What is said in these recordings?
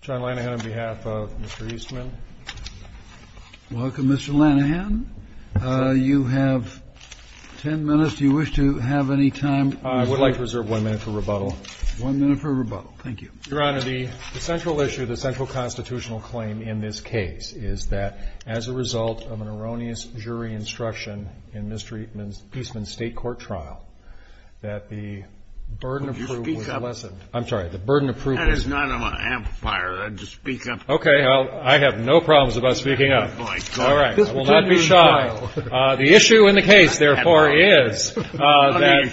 John Lanahan, on behalf of Mr. Eastman. Welcome, Mr. Lanahan. You have 10 minutes. Do you wish to have any time? I would like to reserve 1 minute for rebuttal. 1 minute for rebuttal. Thank you. Your Honor, the central issue, the central constitutional claim in this case is that as a result of an erroneous jury instruction in Mr. Eastman's state court trial, that the burden of proof was lessened. I'm sorry, the burden of proof was lessened. That is not on my amplifier. Just speak up. Okay, I have no problems about speaking up. All right, I will not be shy. The issue in the case, therefore, is that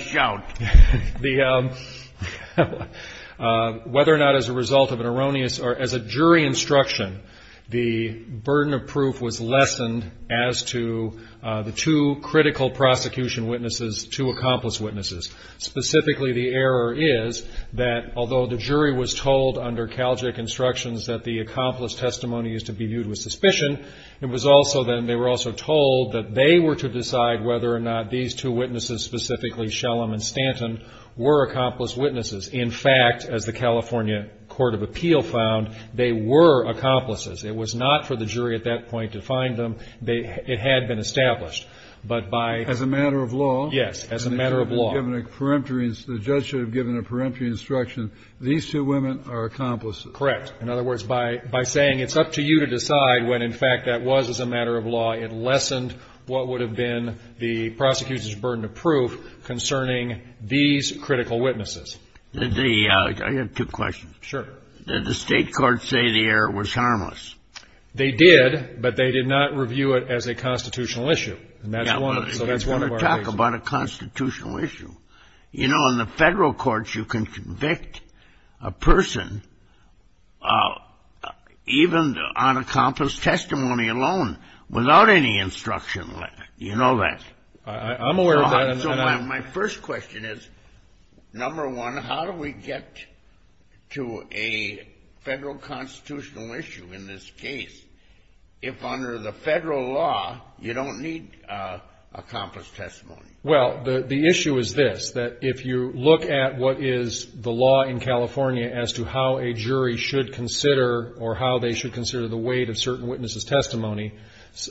whether or not as a result of an erroneous or as a jury instruction, the burden of proof was lessened as to the two critical prosecution witnesses, two accomplice witnesses. Specifically the error is that although the jury was told under Calgic instructions that the accomplice testimony is to be viewed with suspicion, it was also then they were also told that they were to decide whether or not these two witnesses, specifically Shellam and Stanton, were accomplice witnesses. In fact, as the California Court of Appeal found, they were accomplices. It was not for the jury at that point to find them. It had been established. But by As a matter of law? Yes, as a matter of law. The judge should have given a peremptory instruction, these two women are accomplices. Correct. In other words, by saying it's up to you to decide when, in fact, that was as a matter of law, it lessened what would have been the prosecution's burden of proof concerning these critical witnesses. I have two questions. Sure. Did the state courts say the error was harmless? They did, but they did not review it as a constitutional issue. Now, we're going to talk about a constitutional issue. You know, in the federal courts, you can convict a person, even on accomplice testimony alone, without any instruction. You know that. I'm aware of that. So my first question is, number one, how do we get to a federal constitutional issue in this case if under the federal law you don't need accomplice testimony? Well, the issue is this, that if you look at what is the law in California as to how a jury should consider or how they should consider the weight of certain witnesses' testimony,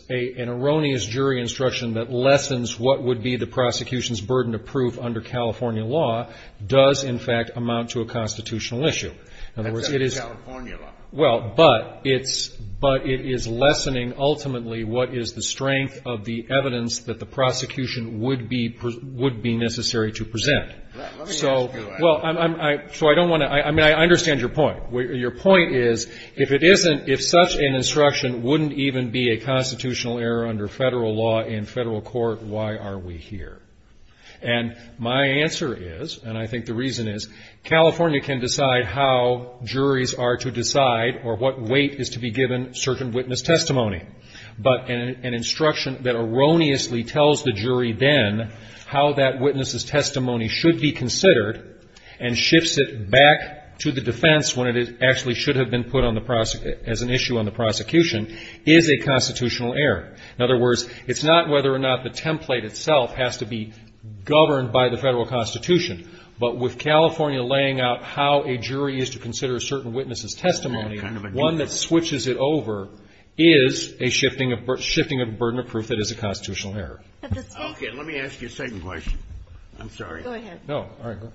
an erroneous jury instruction that lessens what would be the prosecution's burden of proof under California law does, in fact, amount to a constitutional issue. In other words, it is — That's not the California law. Well, but it's — but it is lessening, ultimately, what is the strength of the evidence that the prosecution would be — would be necessary to present. So — Let me ask you — Well, I'm — so I don't want to — I mean, I understand your point. Your point is, if it isn't — if such an instruction wouldn't even be a constitutional error under federal law in federal court, why are we here? And my answer is, and I think the reason is, California can decide how juries are to decide or what weight is to be given certain witness testimony. But an instruction that erroneously tells the jury then how that witness' testimony should be considered and shifts it back to the defense when it actually should have been put on the — as an issue on the prosecution is a constitutional error. In other words, it's not whether or not the template itself has to be governed by the federal constitution. But with California laying out how a jury is to consider a certain witness' testimony, one that switches it over is a shifting of — shifting of a burden of proof that is a constitutional error. But the state — Okay. Let me ask you a second question. I'm sorry. Go ahead. No. All right. Go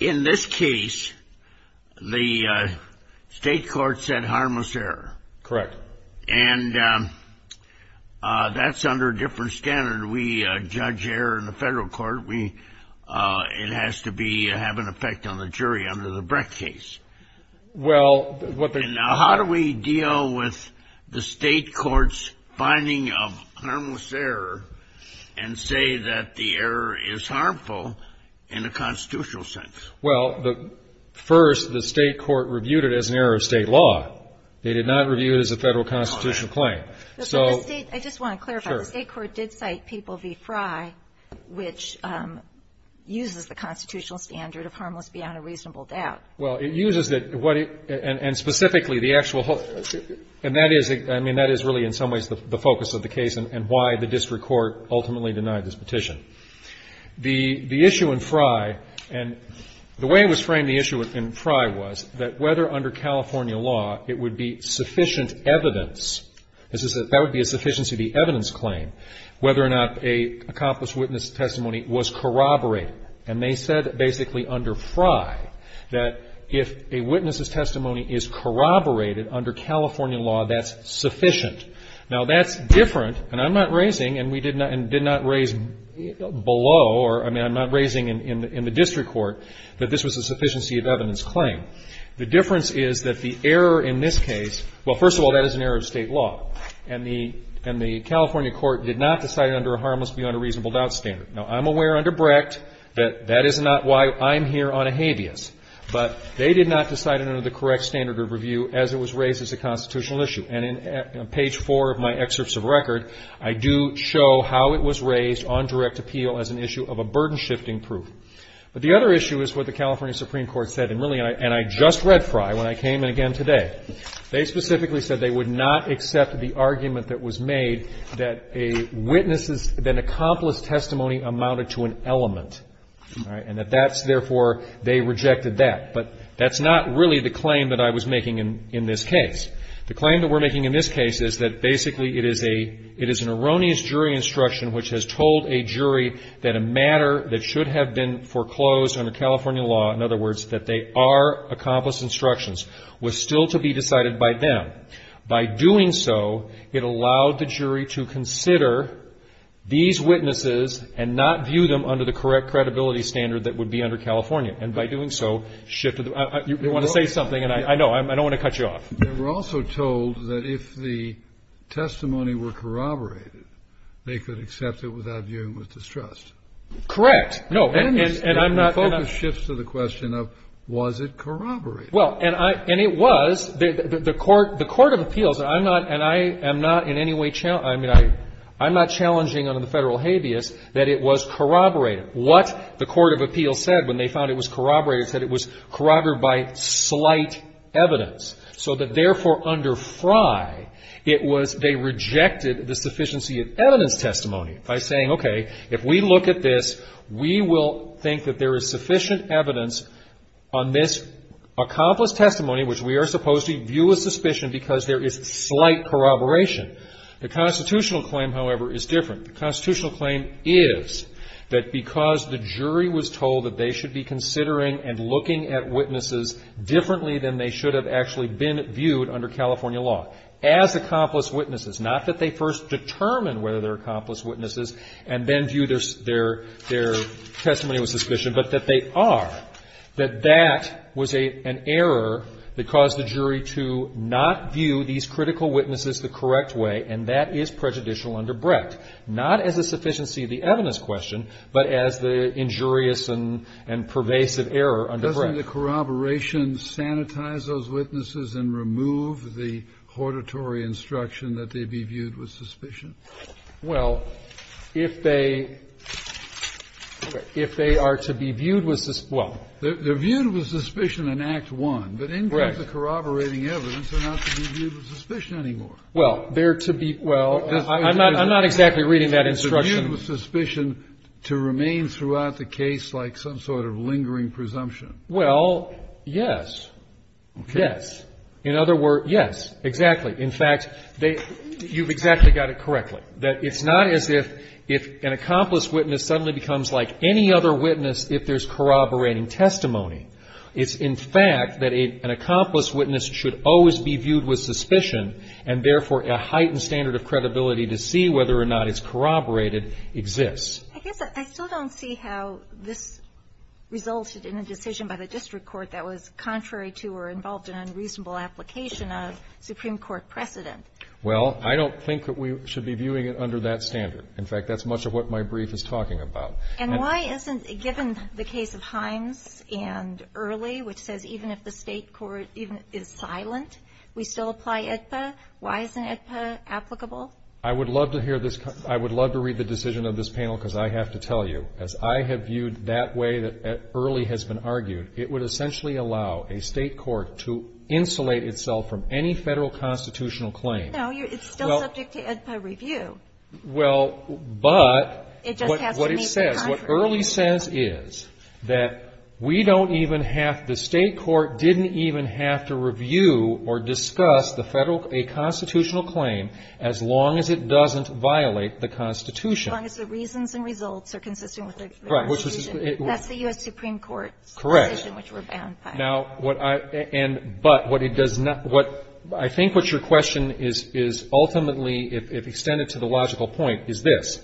ahead. In this case, the state court said harmless error. Correct. And that's under a different standard. We judge error in the federal court. We — it has to be — have an effect on the jury under the Breck case. Well, what the — And how do we deal with the state court's finding of harmless error and say that the Well, the — first, the state court reviewed it as an error of state law. They did not review it as a federal constitutional claim. So — But the state — I just want to clarify. Sure. The state court did cite Papal v. Fry, which uses the constitutional standard of harmless beyond a reasonable doubt. Well, it uses it — what it — and specifically, the actual — and that is — I mean, that is really, in some ways, the focus of the case and why the district court ultimately denied this petition. The issue in Fry — and the way it was framed, the issue in Fry, was that whether under California law it would be sufficient evidence — that would be a sufficiency of the evidence claim — whether or not a accomplice's witness testimony was corroborated. And they said basically under Fry that if a witness's testimony is corroborated under California law, that's sufficient. Now, that's different, and I'm not raising — and we did not — and did not raise below or — I mean, I'm not raising in the district court that this was a sufficiency of evidence claim. The difference is that the error in this case — well, first of all, that is an error of state law, and the California court did not decide it under a harmless beyond a reasonable doubt standard. Now, I'm aware under Brecht that that is not why I'm here on a habeas. But they did not decide it under the correct standard of review as it was raised as a constitutional issue. And in page four of my excerpts of record, I do show how it was raised on direct appeal as an issue of a burden-shifting proof. But the other issue is what the California Supreme Court said, and really — and I just read Fry when I came in again today. They specifically said they would not accept the argument that was made that a witness's — that an accomplice's testimony amounted to an element, and that that's — therefore, they rejected that. But that's not really the claim that I was making in this case. The claim that we're making in this case is that basically it is a — it is an erroneous jury instruction which has told a jury that a matter that should have been foreclosed under California law — in other words, that they are accomplice instructions — was still to be decided by them. By doing so, it allowed the jury to consider these witnesses and not view them under the correct credibility standard that would be under California. And by doing so, shifted — you want to say something, and I know — I don't want to cut you off. They were also told that if the testimony were corroborated, they could accept it without viewing with distrust. Correct. No. And I'm not — And the focus shifts to the question of, was it corroborated? Well, and I — and it was. The Court of Appeals — and I'm not — and I am not in any way — I mean, I'm not challenging under the federal habeas that it was corroborated. What the Court of Appeals said when they found it was corroborated is that it was corroborated by slight evidence. So that, therefore, under Frye, it was — they rejected the sufficiency of evidence testimony by saying, okay, if we look at this, we will think that there is sufficient evidence on this accomplice testimony, which we are supposed to view with suspicion because there is slight corroboration. The constitutional claim, however, is different. The constitutional claim is that because the jury was told that they should be considering and looking at witnesses differently than they should have actually been viewed under California law as accomplice witnesses — not that they first determined whether they're accomplice witnesses and then viewed their testimony with suspicion, but that they are — that that was an error that caused the jury to not view these critical witnesses the correct way, and that is prejudicial under Brecht, not as a sufficiency of the evidence question, but as the injurious and pervasive error under Brecht. Kennedy. Doesn't the corroboration sanitize those witnesses and remove the hortatory instruction that they be viewed with suspicion? Fisher. Well, if they — if they are to be viewed with — well — Kennedy. They're viewed with suspicion in Act I, but in terms of corroborating evidence, they're not to be viewed with suspicion anymore. Fisher. Well, they're to be — well, I'm not — I'm not exactly reading that instruction. Kennedy. They're viewed with suspicion to remain throughout the case like some sort of lingering presumption. Fisher. Well, yes. Yes. In other words — yes, exactly. In fact, they — you've exactly got it correctly, that it's not as if — if an accomplice witness suddenly becomes like any other witness if there's corroborating testimony. It's, in fact, that an accomplice witness should always be viewed with suspicion and, therefore, a heightened standard of credibility to see whether or not it's corroborated exists. I guess I still don't see how this resulted in a decision by the district court that was contrary to or involved in an unreasonable application of Supreme Court precedent. Well, I don't think that we should be viewing it under that standard. In fact, that's much of what my brief is talking about. And why isn't — given the case of Himes and Early, which says even if the State Court even is silent, we still apply AEDPA, why isn't AEDPA applicable? I would love to hear this — I would love to read the decision of this panel, because I have to tell you, as I have viewed that way that Early has been argued, it would essentially allow a State court to insulate itself from any Federal constitutional claim. No, you're — it's still subject to AEDPA review. Well, but — It just has to meet the contract. What Early says is that we don't even have — the State court didn't even have to review or discuss the Federal — a constitutional claim as long as it doesn't violate the Constitution. As long as the reasons and results are consistent with the Constitution. Right. That's the U.S. Supreme Court's position, which we're bound by. Correct. Now, what I — and — but what it does not — what — I think what your question is ultimately, if extended to the logical point, is this.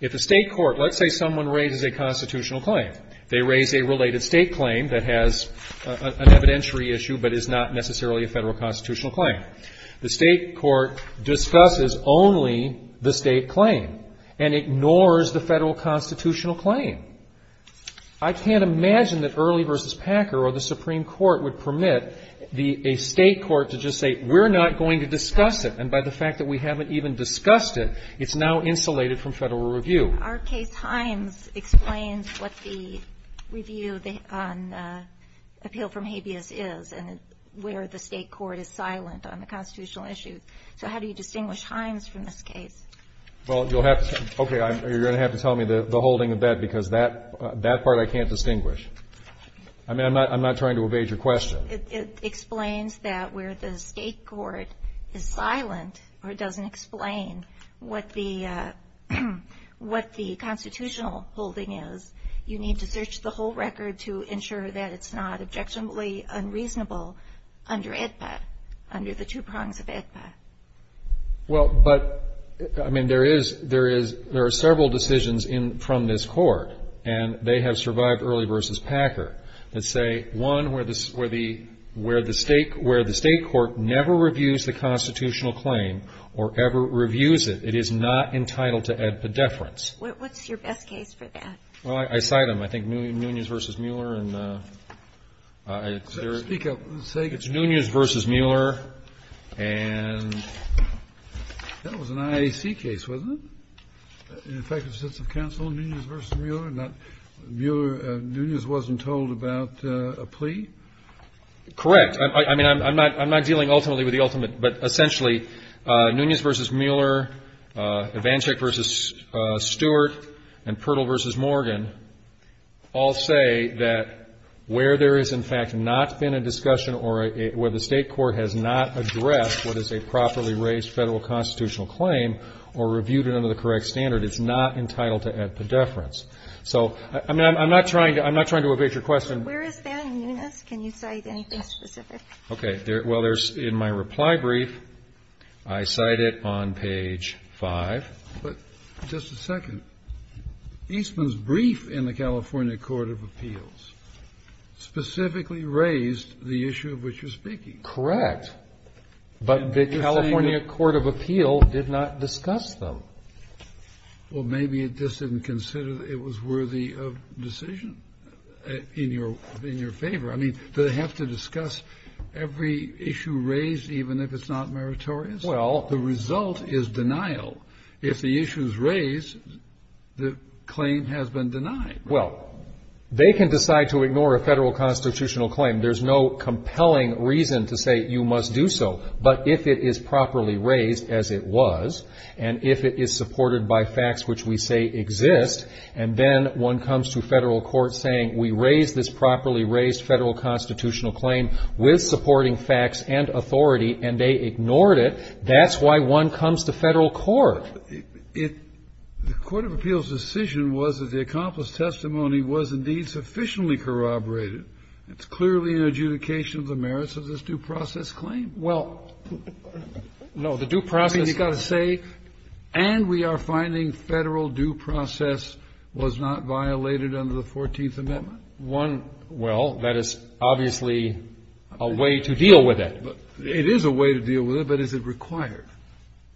If a State court — let's say someone raises a constitutional claim. They raise a related State claim that has an evidentiary issue, but is not necessarily a Federal constitutional claim. The State court discusses only the State claim and ignores the Federal constitutional claim. I can't imagine that Early v. Packer or the Supreme Court would permit the — a State court to just say, we're not going to discuss it, and by the fact that we haven't even discussed it, it's now insulated from Federal review. Our case, Himes, explains what the review on appeal from habeas is and where the State court is silent on the constitutional issue. So how do you distinguish Himes from this case? Well, you'll have to — okay, I'm — you're going to have to tell me the holding of that, because that — that part I can't distinguish. I mean, I'm not — I'm not trying to evade your question. It explains that where the State court is silent or doesn't explain what the — what the constitutional holding is, you need to search the whole record to ensure that it's not objectionably unreasonable under AEDPA, under the two prongs of AEDPA. Well, but — I mean, there is — there is — there are several decisions in — from this court, and they have survived early versus Packer, that say, one, where the — where the State — where the State court never reviews the constitutional claim or ever reviews it, it is not entitled to AEDPA deference. What's your best case for that? Well, I cite them. I think Nunez v. Mueller and — Speak up. It's Nunez v. Mueller and — That was an IAC case, wasn't it? An effective sense of counsel, Nunez v. Mueller? Not — Mueller — Nunez wasn't told about a plea? Correct. I mean, I'm not — I'm not dealing ultimately with the ultimate. But essentially, Nunez v. Mueller, Ivanchik v. Stewart, and Pirtle v. Morgan all say that where there has, in fact, not been a discussion or a — where the State court has not addressed what is a properly raised Federal constitutional claim or reviewed it under the correct standard, it's not entitled to AEDPA deference. So, I mean, I'm not trying to — I'm not trying to evade your question. Where is that in Nunez? Can you cite anything specific? Okay. Well, there's — in my reply brief, I cite it on page 5. But just a second. Eastman's brief in the California Court of Appeals specifically raised the issue of which you're speaking. Correct. But the California Court of Appeals did not discuss them. Well, maybe it just didn't consider it was worthy of decision in your — in your favor. I mean, do they have to discuss every issue raised, even if it's not meritorious? Well — The result is denial. If the issue is raised, the claim has been denied. Well, they can decide to ignore a Federal constitutional claim. There's no compelling reason to say you must do so. But if it is properly raised, as it was, and if it is supported by facts which we say exist, and then one comes to Federal court saying, we raised this properly raised Federal constitutional claim with supporting facts and authority, and they ignored it, that's why one comes to Federal court. It — the Court of Appeals' decision was that the accomplished testimony was indeed sufficiently corroborated. It's clearly an adjudication of the merits of this due process claim. Well — No, the due process — I mean, you've got to say, and we are finding Federal due process was not violated under the Fourteenth Amendment. One — well, that is obviously a way to deal with it. It is a way to deal with it, but is it required?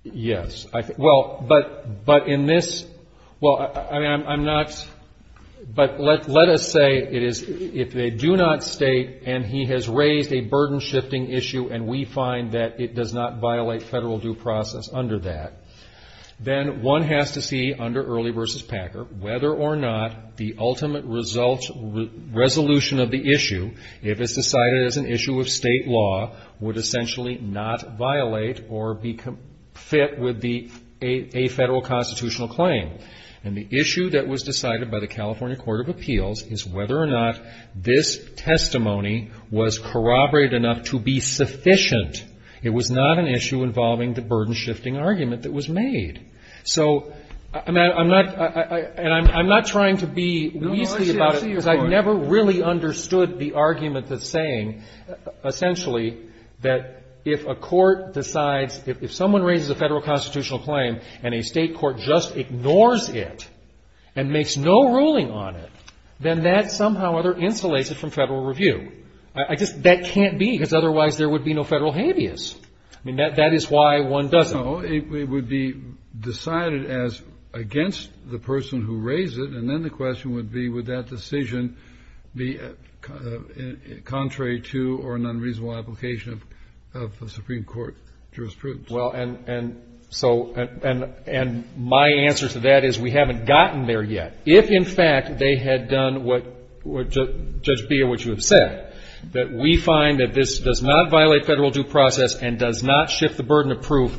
Yes. Well, but in this — well, I mean, I'm not — but let us say it is — if they do not state, and he has raised a burden-shifting issue, and we find that it does not violate Federal due process under that, then one has to see under Early v. Packer whether or not the ultimate result — resolution of the issue, if it's decided as an issue of State law, would essentially not violate or be fit with the — a Federal constitutional claim. And the issue that was decided by the California Court of Appeals is whether or not this testimony was corroborated enough to be sufficient. It was not an issue involving the burden-shifting argument that was made. So I'm not — and I'm not trying to be weasley about it. No, no, I see your point. Because I've never really understood the argument that's saying, essentially, that if a court decides — if someone raises a Federal constitutional claim and a State has no ruling on it, then that somehow or other insulates it from Federal review. I just — that can't be, because otherwise there would be no Federal habeas. I mean, that is why one doesn't — No, it would be decided as against the person who raised it, and then the question would be, would that decision be contrary to or an unreasonable application of Supreme Court jurisprudence? Well, and — and so — and my answer to that is we haven't gotten there yet. If, in fact, they had done what — Judge Beha, what you have said, that we find that this does not violate Federal due process and does not shift the burden of proof,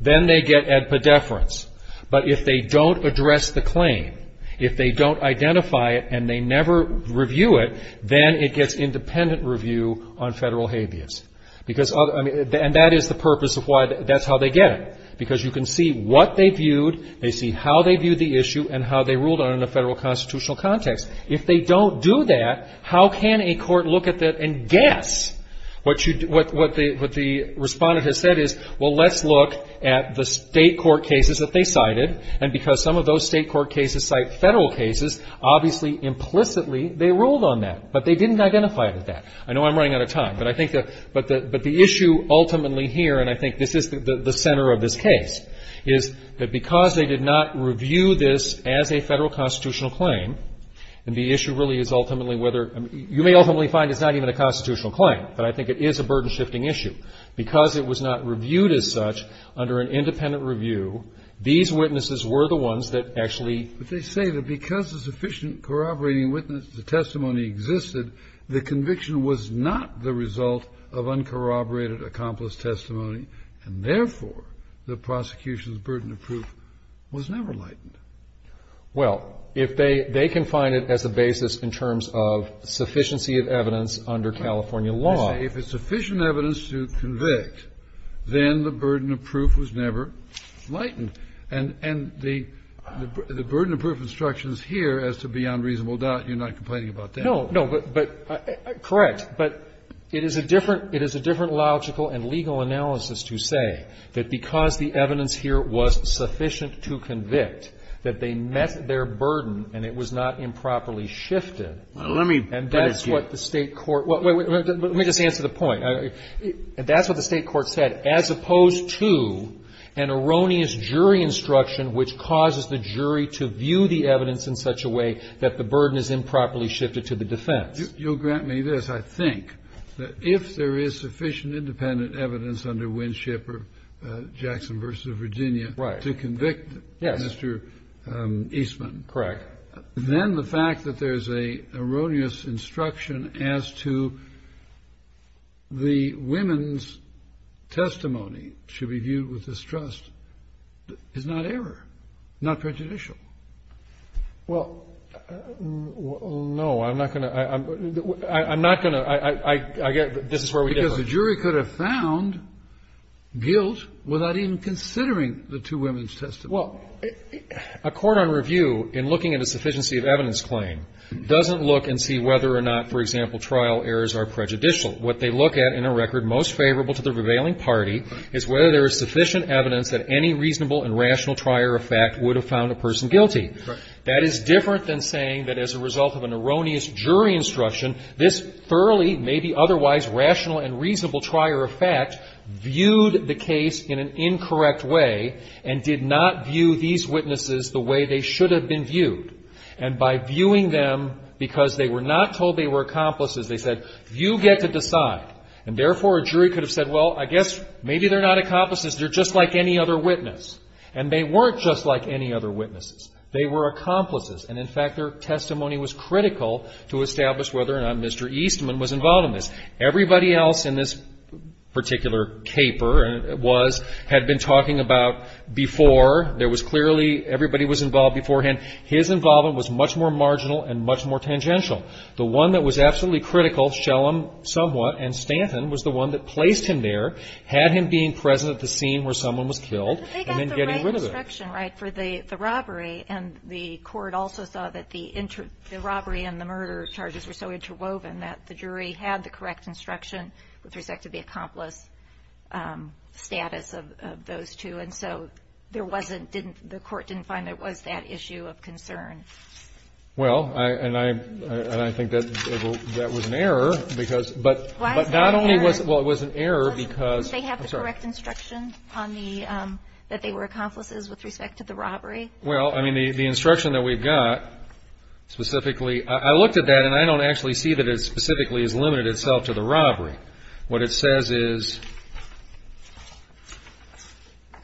then they get ad pedeferens. But if they don't address the claim, if they don't identify it and they never review it, then it gets independent review on Federal habeas. Because — and that is the purpose of why — that's how they get it, because you can see what they viewed, they see how they viewed the issue, and how they ruled on it in a Federal constitutional context. If they don't do that, how can a court look at that and guess? What you — what the Respondent has said is, well, let's look at the State court cases that they cited, and because some of those State court cases cite Federal cases, obviously, implicitly, they ruled on that. But they didn't identify it as that. I know I'm running out of time, but I think that — but the issue ultimately here, and I think this is the center of this case, is that because they did not review this as a Federal constitutional claim, and the issue really is ultimately whether — you may ultimately find it's not even a constitutional claim, but I think it is a burden-shifting issue. Because it was not reviewed as such under an independent review, these witnesses were the ones that actually — And was not the result of uncorroborated accomplice testimony, and therefore, the prosecution's burden of proof was never lightened. Well, if they — they can find it as a basis in terms of sufficiency of evidence under California law. You say if it's sufficient evidence to convict, then the burden of proof was never lightened. And — and the — the burden of proof instructions here as to be on reasonable doubt, you're not complaining about that? No. But — but — correct. But it is a different — it is a different logical and legal analysis to say that because the evidence here was sufficient to convict, that they met their burden and it was not improperly shifted. Well, let me — And that's what the State court — well, wait, wait. Let me just answer the point. That's what the State court said. As opposed to an erroneous jury instruction which causes the jury to view the evidence in such a way that the burden is improperly shifted to the defense. You'll grant me this, I think, that if there is sufficient independent evidence under Winship or Jackson v. Virginia to convict Mr. Eastman. Right. Yes. Correct. Then the fact that there's an erroneous instruction as to the women's testimony to be viewed with distrust is not error, not prejudicial. Well, no. I'm not going to — I'm not going to — I get — this is where we differ. Because the jury could have found guilt without even considering the two women's testimony. Well, a court on review, in looking at a sufficiency of evidence claim, doesn't look and see whether or not, for example, trial errors are prejudicial. What they look at in a record most favorable to the prevailing party is whether there is sufficient evidence that any reasonable and rational trial error effect would have found a person guilty. That is different than saying that as a result of an erroneous jury instruction, this thoroughly, maybe otherwise rational and reasonable trial error effect viewed the case in an incorrect way and did not view these witnesses the way they should have been viewed. And by viewing them because they were not told they were accomplices, they said, you get to decide. And therefore, a jury could have said, well, I guess maybe they're not accomplices. They're just like any other witness. And they weren't just like any other witnesses. They were accomplices. And, in fact, their testimony was critical to establish whether or not Mr. Eastman was involved in this. Everybody else in this particular caper was — had been talking about before. There was clearly — everybody was involved beforehand. His involvement was much more marginal and much more tangential. The one that was absolutely critical, Shellam somewhat, and Stanton was the one that placed him there, had him being present at the scene where someone was killed, and then getting rid of him. But they got the right instruction, right, for the robbery. And the court also saw that the robbery and the murder charges were so interwoven that the jury had the correct instruction with respect to the accomplice status of those two. Well, and I think that was an error because — Why is that an error? Well, it was an error because — Did they have the correct instruction on the — that they were accomplices with respect to the robbery? Well, I mean, the instruction that we've got specifically — I looked at that, and I don't actually see that it specifically has limited itself to the robbery. What it says is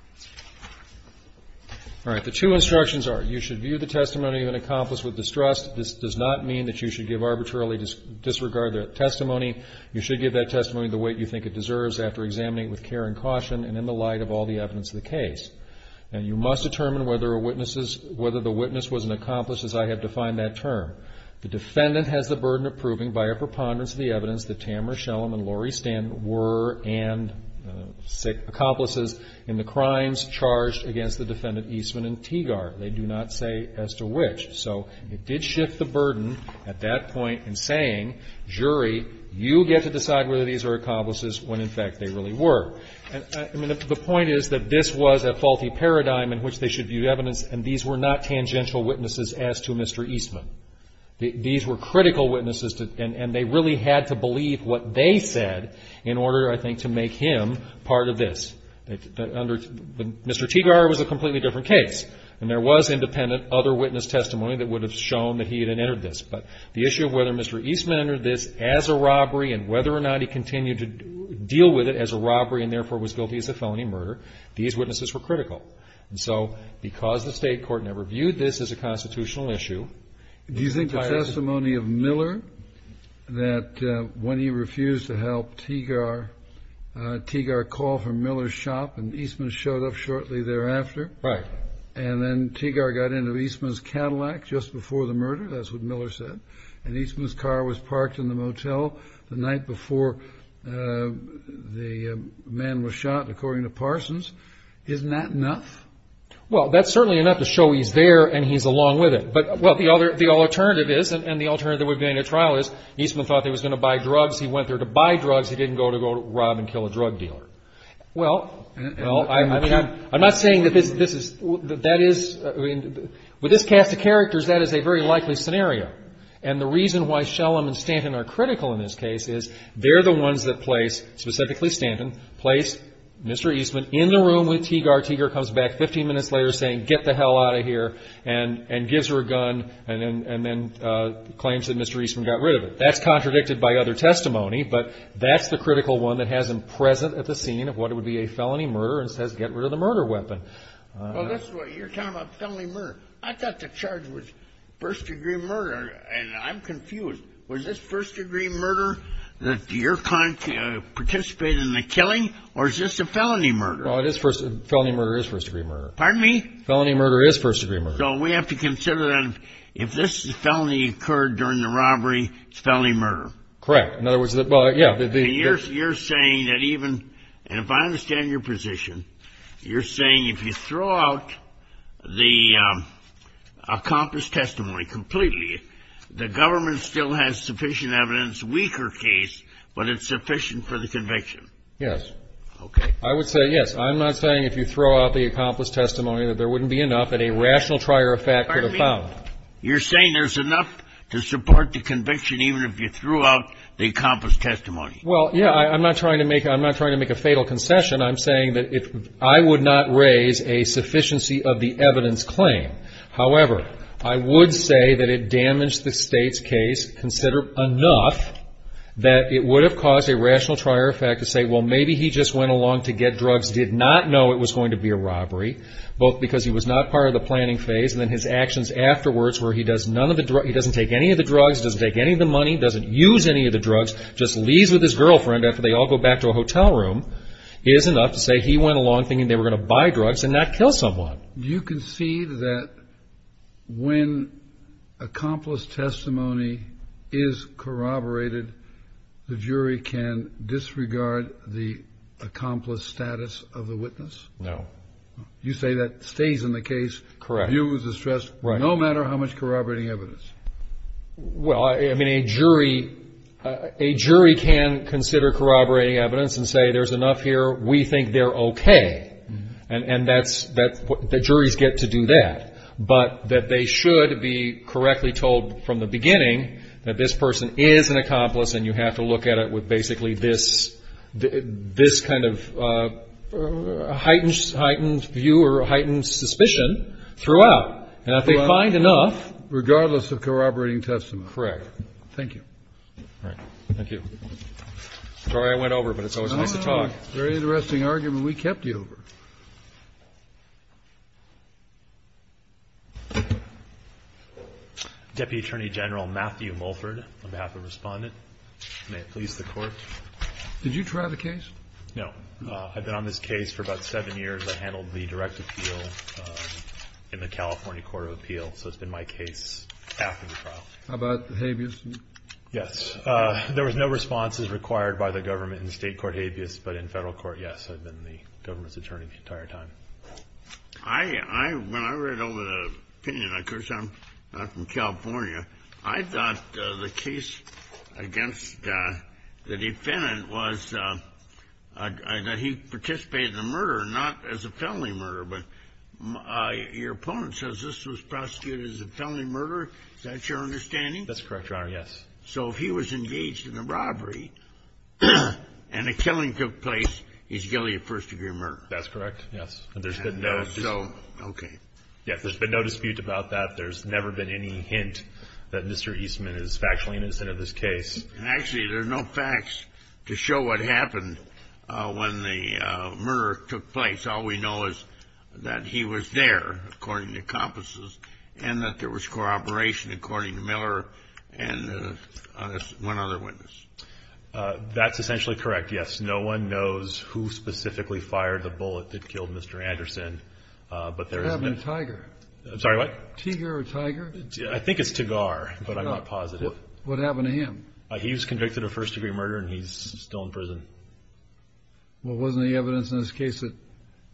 — All right. The two instructions are, you should view the testimony of an accomplice with distrust. This does not mean that you should give arbitrarily disregarded testimony. You should give that testimony the way you think it deserves after examining it with care and caution and in the light of all the evidence of the case. And you must determine whether the witness was an accomplice, as I have defined that term. The defendant has the burden of proving by a preponderance of the evidence that Tamara Shellam and Laurie Sten were accomplices in the crimes charged against the defendant Eastman and Teagard. They do not say as to which. So it did shift the burden at that point in saying, jury, you get to decide whether these are accomplices when, in fact, they really were. I mean, the point is that this was a faulty paradigm in which they should view evidence, and these were not tangential witnesses as to Mr. Eastman. These were critical witnesses, and they really had to believe what they said in order, I think, to make him part of this. Mr. Teagard was a completely different case, and there was independent other witness testimony that would have shown that he had entered this. But the issue of whether Mr. Eastman entered this as a robbery and whether or not he continued to deal with it as a robbery and therefore was guilty as a felony murder, these witnesses were critical. And so because the State court never viewed this as a constitutional issue, do you think the testimony of Miller that when he refused to help Teagard, Teagard called for Miller's shop, and Eastman showed up shortly thereafter? Right. And then Teagard got into Eastman's Cadillac just before the murder, that's what Miller said, and Eastman's car was parked in the motel the night before the man was shot, according to Parsons. Isn't that enough? Well, that's certainly enough to show he's there and he's along with it. Well, the alternative is, and the alternative would be in a trial is, Eastman thought he was going to buy drugs. He went there to buy drugs. He didn't go to go rob and kill a drug dealer. Well, I'm not saying that this is ñ that is ñ with this cast of characters, that is a very likely scenario. And the reason why Shellam and Stanton are critical in this case is they're the ones that place, specifically Stanton, place Mr. Eastman in the room with Teagard. Teagard comes back 15 minutes later saying, ìGet the hell out of here,î and gives her a gun and then claims that Mr. Eastman got rid of it. That's contradicted by other testimony, but that's the critical one that has him present at the scene of what would be a felony murder and says, ìGet rid of the murder weapon.î Well, that's what you're talking about, felony murder. I thought the charge was first-degree murder, and I'm confused. Was this first-degree murder that you're participating in the killing, or is this a felony murder? Well, it is first ñ felony murder is first-degree murder. Pardon me? Felony murder is first-degree murder. So we have to consider that if this felony occurred during the robbery, it's felony murder. Correct. In other words, well, yeah. You're saying that even ñ and if I understand your position, you're saying if you throw out the accomplished testimony completely, the government still has sufficient evidence, weaker case, but it's sufficient for the conviction. Yes. Okay. I would say yes. I'm not saying if you throw out the accomplished testimony that there wouldn't be enough that a rational trier of fact could have found. Pardon me? You're saying there's enough to support the conviction even if you threw out the accomplished testimony. Well, yeah. I'm not trying to make a fatal concession. I'm saying that I would not raise a sufficiency of the evidence claim. However, I would say that it damaged the State's case considerably enough that it would have caused a rational trier of fact to say, well, maybe he just went along to get drugs, did not know it was going to be a robbery, both because he was not part of the planning phase, and then his actions afterwards where he doesn't take any of the drugs, doesn't take any of the money, doesn't use any of the drugs, just leaves with his girlfriend after they all go back to a hotel room, is enough to say he went along thinking they were going to buy drugs and not kill someone. You can see that when accomplished testimony is corroborated, the jury can disregard the accomplished status of the witness? No. You say that stays in the case, views the stress, no matter how much corroborating evidence? Well, I mean, a jury can consider corroborating evidence and say there's enough here, we think they're okay, and that's what the juries get to do that, but that they should be correctly told from the beginning that this person is an accomplice and you have to look at it with basically this kind of heightened view or heightened suspicion throughout. And if they find enough... Regardless of corroborating testimony. Correct. Thank you. All right. Thank you. Sorry I went over, but it's always nice to talk. Very interesting argument. We kept you over. Deputy Attorney General Matthew Mulford, on behalf of Respondent. May it please the Court. Did you try the case? No. I've been on this case for about seven years. I handled the direct appeal in the California Court of Appeal, so it's been my case after the trial. How about the habeas? Yes. There was no responses required by the government in the state court habeas, but in federal court, yes, I've been the government's attorney the entire time. When I read over the opinion, of course I'm not from California, I thought the case against the defendant was that he participated in a murder, not as a felony murder, but your opponent says this was prosecuted as a felony murder. Is that your understanding? That's correct, Your Honor. Yes. So if he was engaged in a robbery and a killing took place, he's guilty of first-degree murder. That's correct, yes. And so, okay. Yes, there's been no dispute about that. There's never been any hint that Mr. Eastman is factually innocent of this case. Actually, there's no facts to show what happened when the murder took place. All we know is that he was there, according to compasses, and that there was corroboration, according to Miller, and one other witness. That's essentially correct, yes. No one knows who specifically fired the bullet that killed Mr. Anderson. What happened to Tiger? I'm sorry, what? Tiger or Tiger? I think it's Tagar, but I'm not positive. What happened to him? He was convicted of first-degree murder, and he's still in prison. Well, wasn't there evidence in this case that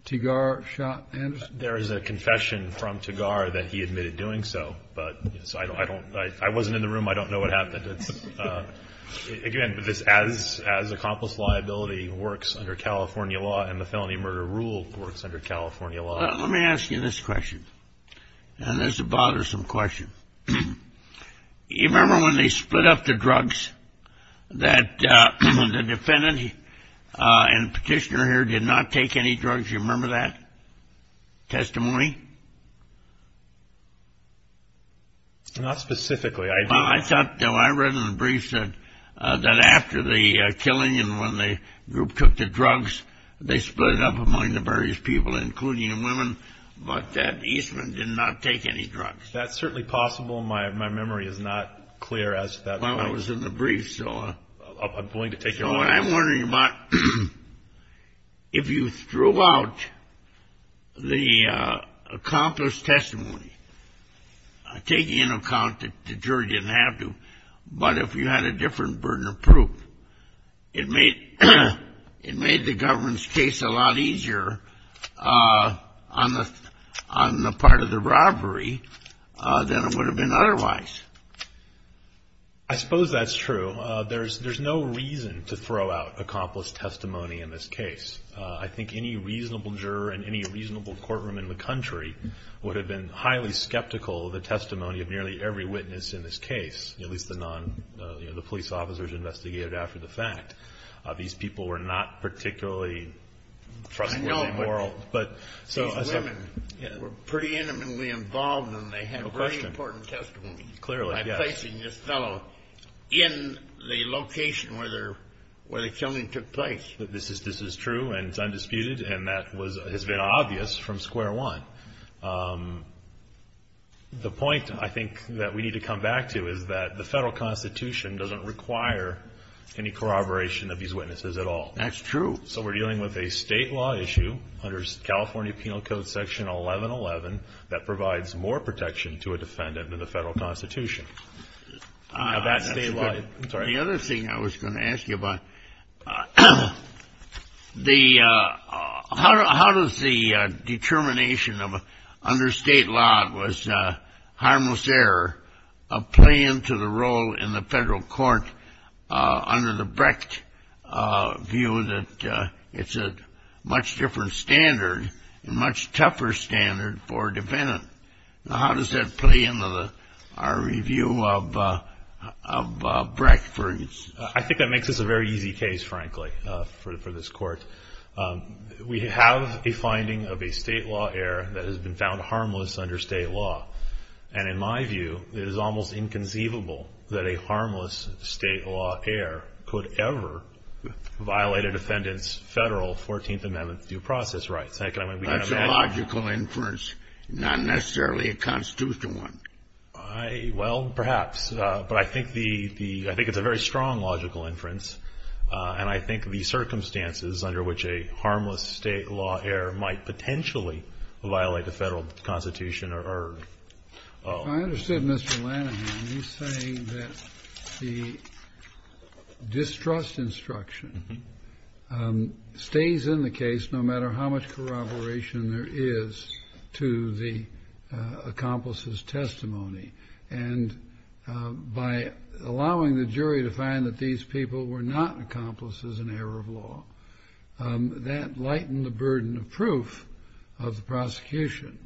Tagar shot Anderson? There is a confession from Tagar that he admitted doing so, but I wasn't in the room. I don't know what happened. Again, as accomplished liability works under California law, and the felony murder rule works under California law. Let me ask you this question, and this is a bothersome question. You remember when they split up the drugs, that the defendant and petitioner here did not take any drugs? Do you remember that testimony? Not specifically. I thought, though, I read in the briefs that after the killing and when the group took the drugs, they split up among the various people, including the women, but that Eastman did not take any drugs. That's certainly possible. My memory is not clear as to that point. Well, I was in the briefs, so I'm going to take a look. So what I'm wondering about, if you threw out the accomplished testimony, taking into account that the jury didn't have to, but if you had a different burden of proof, it made the government's case a lot easier on the part of the robbery than it would have been otherwise. I suppose that's true. There's no reason to throw out accomplished testimony in this case. I think any reasonable juror in any reasonable courtroom in the country would have been highly skeptical of the testimony of nearly every witness in this case, at least the police officers investigated after the fact. These people were not particularly trustworthy and moral. I know, but these women were pretty intimately involved, and they had very important testimony. Clearly, yes. By placing this fellow in the location where the killing took place. This is true, and it's undisputed, and that has been obvious from square one. The point, I think, that we need to come back to is that the federal Constitution doesn't require any corroboration of these witnesses at all. That's true. So we're dealing with a state law issue under California Penal Code Section 1111 that provides more protection to a defendant than the federal Constitution. The other thing I was going to ask you about, how does the determination under state law, harmless error, play into the role in the federal court under the Brecht view that it's a much different standard, a much tougher standard for a defendant? How does that play into our review of Brecht? I think that makes this a very easy case, frankly, for this court. We have a finding of a state law error that has been found harmless under state law, and in my view it is almost inconceivable that a harmless state law error could ever violate a defendant's federal 14th Amendment due process rights. That's a logical inference, not necessarily a constitutional one. Well, perhaps. But I think it's a very strong logical inference, and I think the circumstances under which a harmless state law error might potentially violate the federal Constitution are- I understood Mr. Lanahan. He's saying that the distrust instruction stays in the case no matter how much corroboration there is to the accomplice's testimony, and by allowing the jury to find that these people were not accomplices in error of law, that lightened the burden of proof of the prosecution.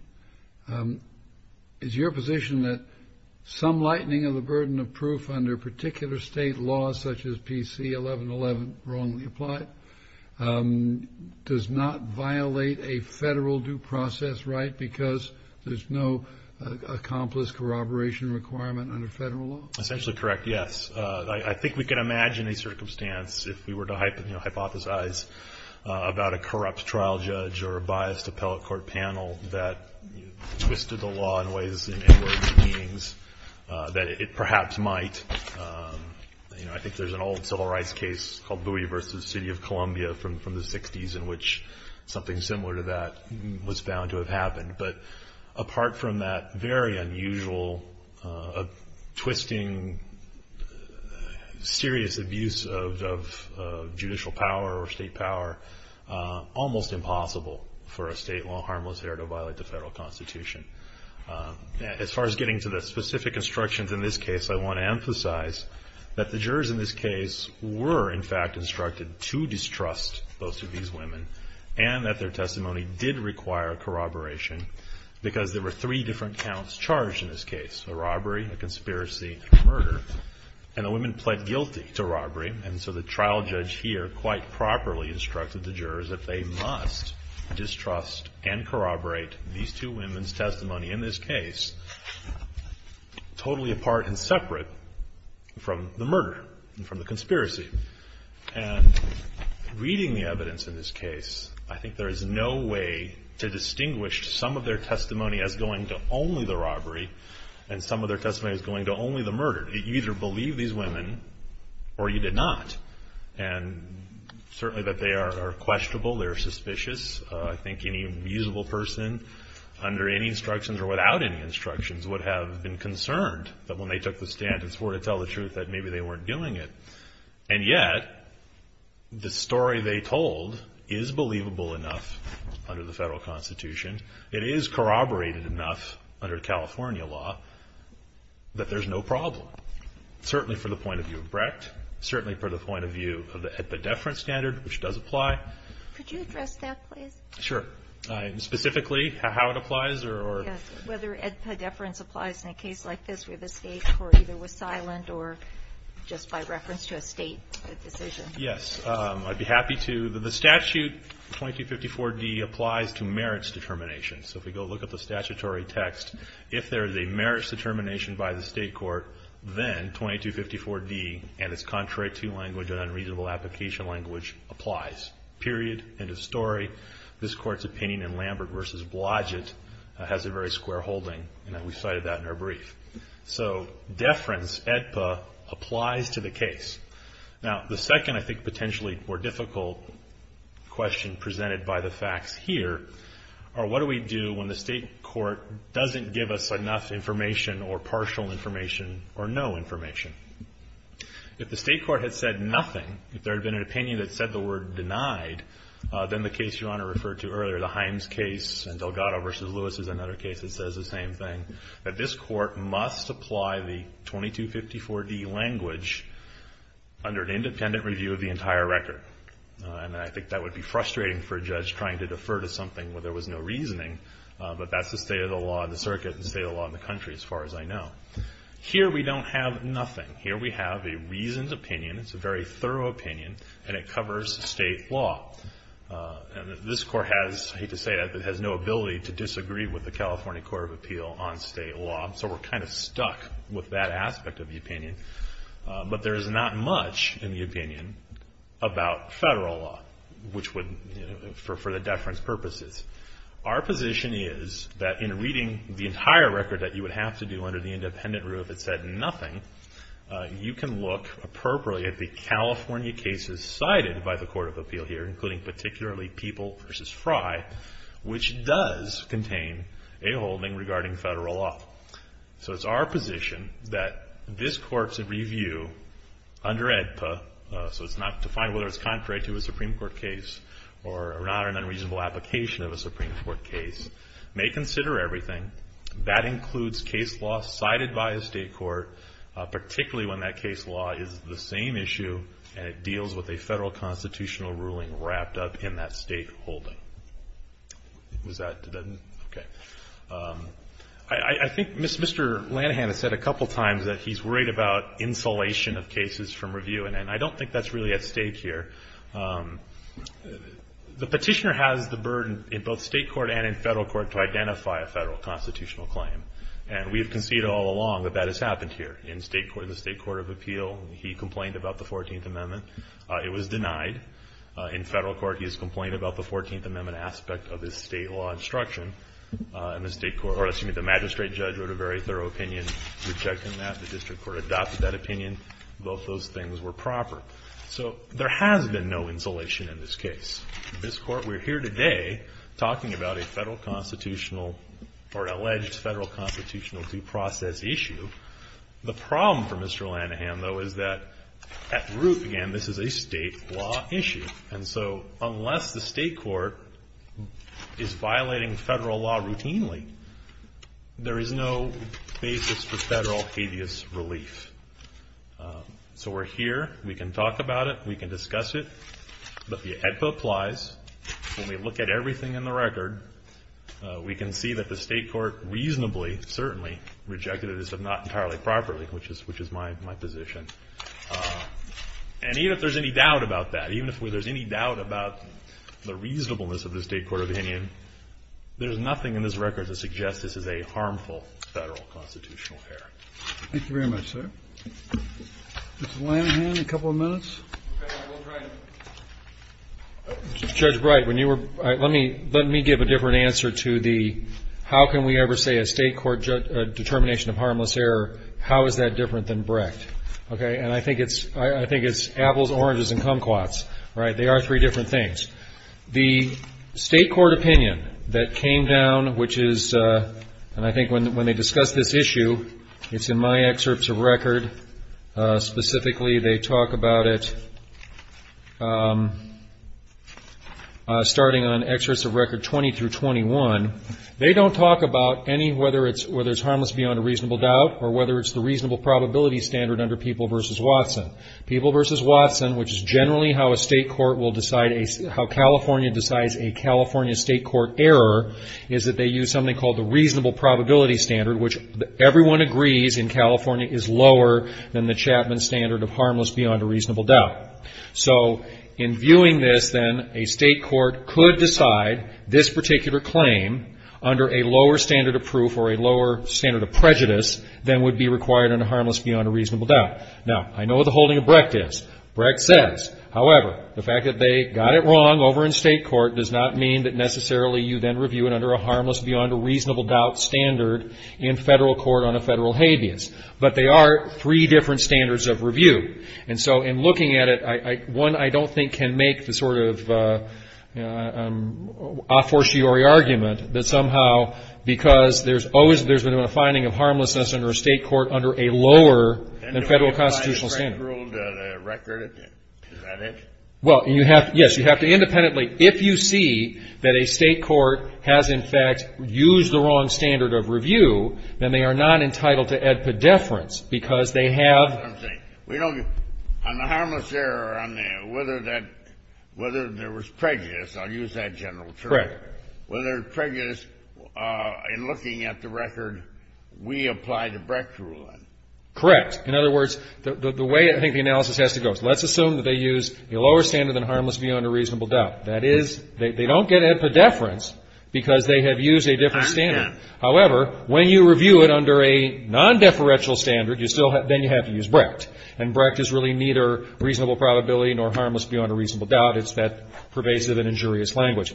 Is your position that some lightening of the burden of proof under particular state laws, such as PC 1111, wrongly applied, does not violate a federal due process right because there's no accomplice corroboration requirement under federal law? Essentially correct, yes. I think we can imagine a circumstance if we were to hypothesize about a corrupt trial judge or a biased appellate court panel that twisted the law in ways in which it perhaps might. I think there's an old civil rights case called Bowie v. City of Columbia from the 60s in which something similar to that was found to have happened. But apart from that very unusual twisting, serious abuse of judicial power or state power, almost impossible for a state law harmless error to violate the federal Constitution. As far as getting to the specific instructions in this case, I want to emphasize that the jurors in this case were in fact instructed to distrust both of these women and that their testimony did require corroboration because there were three different counts charged in this case, a robbery, a conspiracy, and a murder. And the women pled guilty to robbery. And so the trial judge here quite properly instructed the jurors that they must distrust and corroborate these two women's testimony in this case, totally apart and separate from the murder and from the conspiracy. And reading the evidence in this case, I think there is no way to distinguish some of their testimony as going to only the robbery and some of their testimony as going to only the murder. You either believe these women or you did not. And certainly that they are questionable, they are suspicious. I think any usable person under any instructions or without any instructions would have been concerned that when they took the stand and swore to tell the truth that maybe they weren't doing it. And yet, the story they told is believable enough under the federal constitution. It is corroborated enough under California law that there's no problem, certainly from the point of view of Brecht, certainly from the point of view of the epidephrine standard, which does apply. Could you address that, please? Sure. Specifically, how it applies or? Yes. Whether epidephrine applies in a case like this where the state court either was silent or just by reference to a state decision. Yes. I'd be happy to. The statute 2254D applies to merits determination. So if we go look at the statutory text, if there is a merits determination by the state court, then 2254D and its contrary to language and unreasonable application language applies. Period. End of story. This court's opinion in Lambert v. Blodgett has a very square holding. And we cited that in our brief. So deference, EDPA, applies to the case. Now, the second I think potentially more difficult question presented by the facts here are what do we do when the state court doesn't give us enough information or partial information or no information? If the state court had said nothing, if there had been an opinion that said the word denied, then the case Your Honor referred to earlier, the Himes case and Delgado v. Lewis is another case that says the same thing, that this court must apply the 2254D language under an independent review of the entire record. And I think that would be frustrating for a judge trying to defer to something where there was no reasoning, but that's the state of the law in the circuit and the state of the law in the country as far as I know. Here we don't have nothing. Here we have a reasoned opinion. It's a very thorough opinion, and it covers state law. And this court has, I hate to say it, but it has no ability to disagree with the California Court of Appeal on state law. So we're kind of stuck with that aspect of the opinion. But there is not much in the opinion about federal law, which would, you know, for the deference purposes. Our position is that in reading the entire record that you would have to do under the independent review if it said nothing, you can look appropriately at the California cases cited by the Court of Appeal here, including particularly People v. Fry, which does contain a holding regarding federal law. So it's our position that this court's review under AEDPA, so it's not defined whether it's contrary to a Supreme Court case or not an unreasonable application of a Supreme Court case, may consider everything. That includes case law cited by a state court, particularly when that case law is the same issue and it deals with a federal constitutional ruling wrapped up in that state holding. Was that, okay. I think Mr. Lanahan has said a couple times that he's worried about insulation of cases from review, and I don't think that's really at stake here. The petitioner has the burden in both state court and in federal court to identify a federal constitutional claim, and we have conceded all along that that has happened here. In the state court of appeal, he complained about the 14th Amendment. It was denied. In federal court, he has complained about the 14th Amendment aspect of his state law instruction, and the magistrate judge wrote a very thorough opinion rejecting that. The district court adopted that opinion. Both those things were proper. So there has been no insulation in this case. This court, we're here today talking about a federal constitutional or alleged federal constitutional due process issue. The problem for Mr. Lanahan, though, is that at root, again, this is a state law issue, and so unless the state court is violating federal law routinely, there is no basis for federal habeas relief. So we're here. We can talk about it. We can discuss it. But the EDPA applies. When we look at everything in the record, we can see that the state court reasonably, certainly, rejected it as if not entirely properly, which is my position. And even if there's any doubt about that, even if there's any doubt about the reasonableness of the state court opinion, there's nothing in this record to suggest this is a harmful federal constitutional affair. Thank you very much, sir. Mr. Lanahan, a couple of minutes. Okay. Judge Bright, let me give a different answer to the how can we ever say a state court determination of harmless error, how is that different than Brecht? And I think it's apples, oranges, and kumquats. They are three different things. The state court opinion that came down, which is, and I think when they discuss this issue, it's in my excerpts of record. Specifically, they talk about it starting on excerpts of record 20 through 21. They don't talk about any, whether it's harmless beyond a reasonable doubt or whether it's the reasonable probability standard under People v. Watson. People v. Watson, which is generally how a state court will decide, how California decides a California state court error, is that they use something called the reasonable probability standard, which everyone agrees in California is lower than the Chapman standard of harmless beyond a reasonable doubt. So in viewing this, then, a state court could decide this particular claim under a lower standard of proof or a lower standard of prejudice than would be required under harmless beyond a reasonable doubt. Now, I know what the holding of Brecht is. Brecht says, however, the fact that they got it wrong over in state court does not mean that necessarily you then review it under a harmless beyond a reasonable doubt standard in federal court on a federal habeas. But they are three different standards of review. And so in looking at it, one I don't think can make the sort of a fortiori argument that somehow because there's always been a finding of harmlessness under a state court under a lower than federal constitutional standard. And do we apply the Brecht rule to the record? Is that it? Well, yes. You have to independently. If you see that a state court has, in fact, used the wrong standard of review, then they are not entitled to add pedeference because they have. That's what I'm saying. Correct. In other words, the way I think the analysis has to go. So let's assume that they use a lower standard than harmless beyond a reasonable doubt. That is, they don't get pedeference because they have used a different standard. However, when you review it under a nondeferential standard, you still have to use Brecht. And Brecht is really neither reasonable probability nor harmless beyond a reasonable doubt. It's that pervasive and injurious language.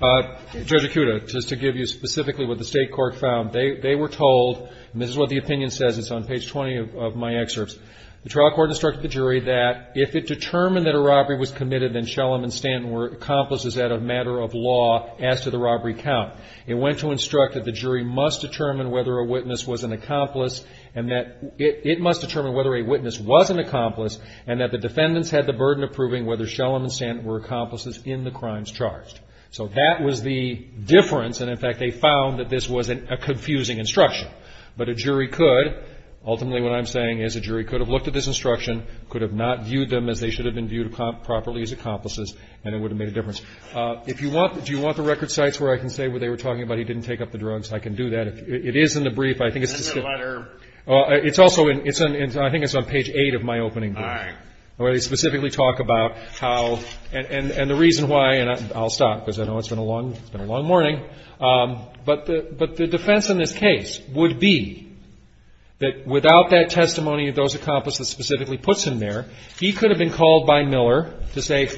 Judge Acuda, just to give you specifically what the state court found. They were told, and this is what the opinion says. It's on page 20 of my excerpts. The trial court instructed the jury that if it determined that a robbery was committed, then Shellam and Stanton were accomplices at a matter of law as to the robbery count. It went to instruct that the jury must determine whether a witness was an accomplice and that it must determine whether a witness was an accomplice and that the defendants had the burden of proving whether Shellam and Stanton were accomplices in the crimes charged. So that was the difference. And, in fact, they found that this was a confusing instruction. But a jury could. Ultimately, what I'm saying is a jury could have looked at this instruction, could have not viewed them as they should have been viewed properly as accomplices, and it would have made a difference. Do you want the record sites where I can say they were talking about he didn't take up the drugs? I can do that. It is in the brief. I think it's on page 8 of my opening book where they specifically talk about how and the reason why, and I'll stop because I know it's been a long morning. But the defense in this case would be that without that testimony of those accomplices that specifically puts him there, he could have been called by Miller to say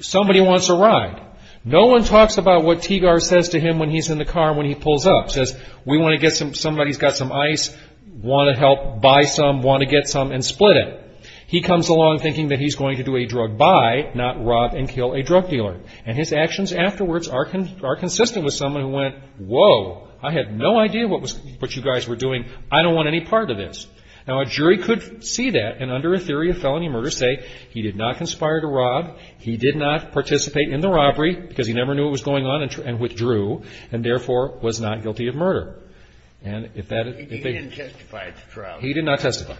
somebody wants a ride. No one talks about what Teagar says to him when he's in the car and when he pulls up. He says, we want to get some, somebody's got some ice, want to help buy some, want to get some, and split it. He comes along thinking that he's going to do a drug buy, not rob and kill a drug dealer. And his actions afterwards are consistent with someone who went, whoa, I had no idea what you guys were doing. I don't want any part of this. Now, a jury could see that and under a theory of felony murder say he did not conspire to rob, he did not participate in the robbery because he never knew what was going on and withdrew and therefore was not guilty of murder. And if that is the case. He didn't testify at the trial. He did not testify.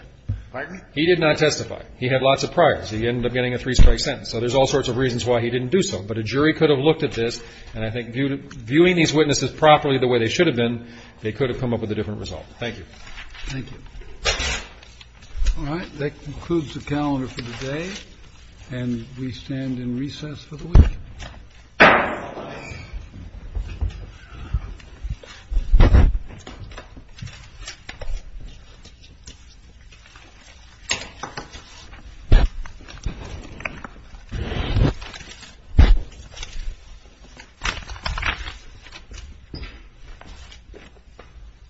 Pardon? He did not testify. He had lots of priors. He ended up getting a three-strike sentence. So there's all sorts of reasons why he didn't do so. But a jury could have looked at this, and I think viewing these witnesses properly the way they should have been, they could have come up with a different result. Thank you. Thank you. All right. That concludes the calendar for today, and we stand in recess for the week. Thank you.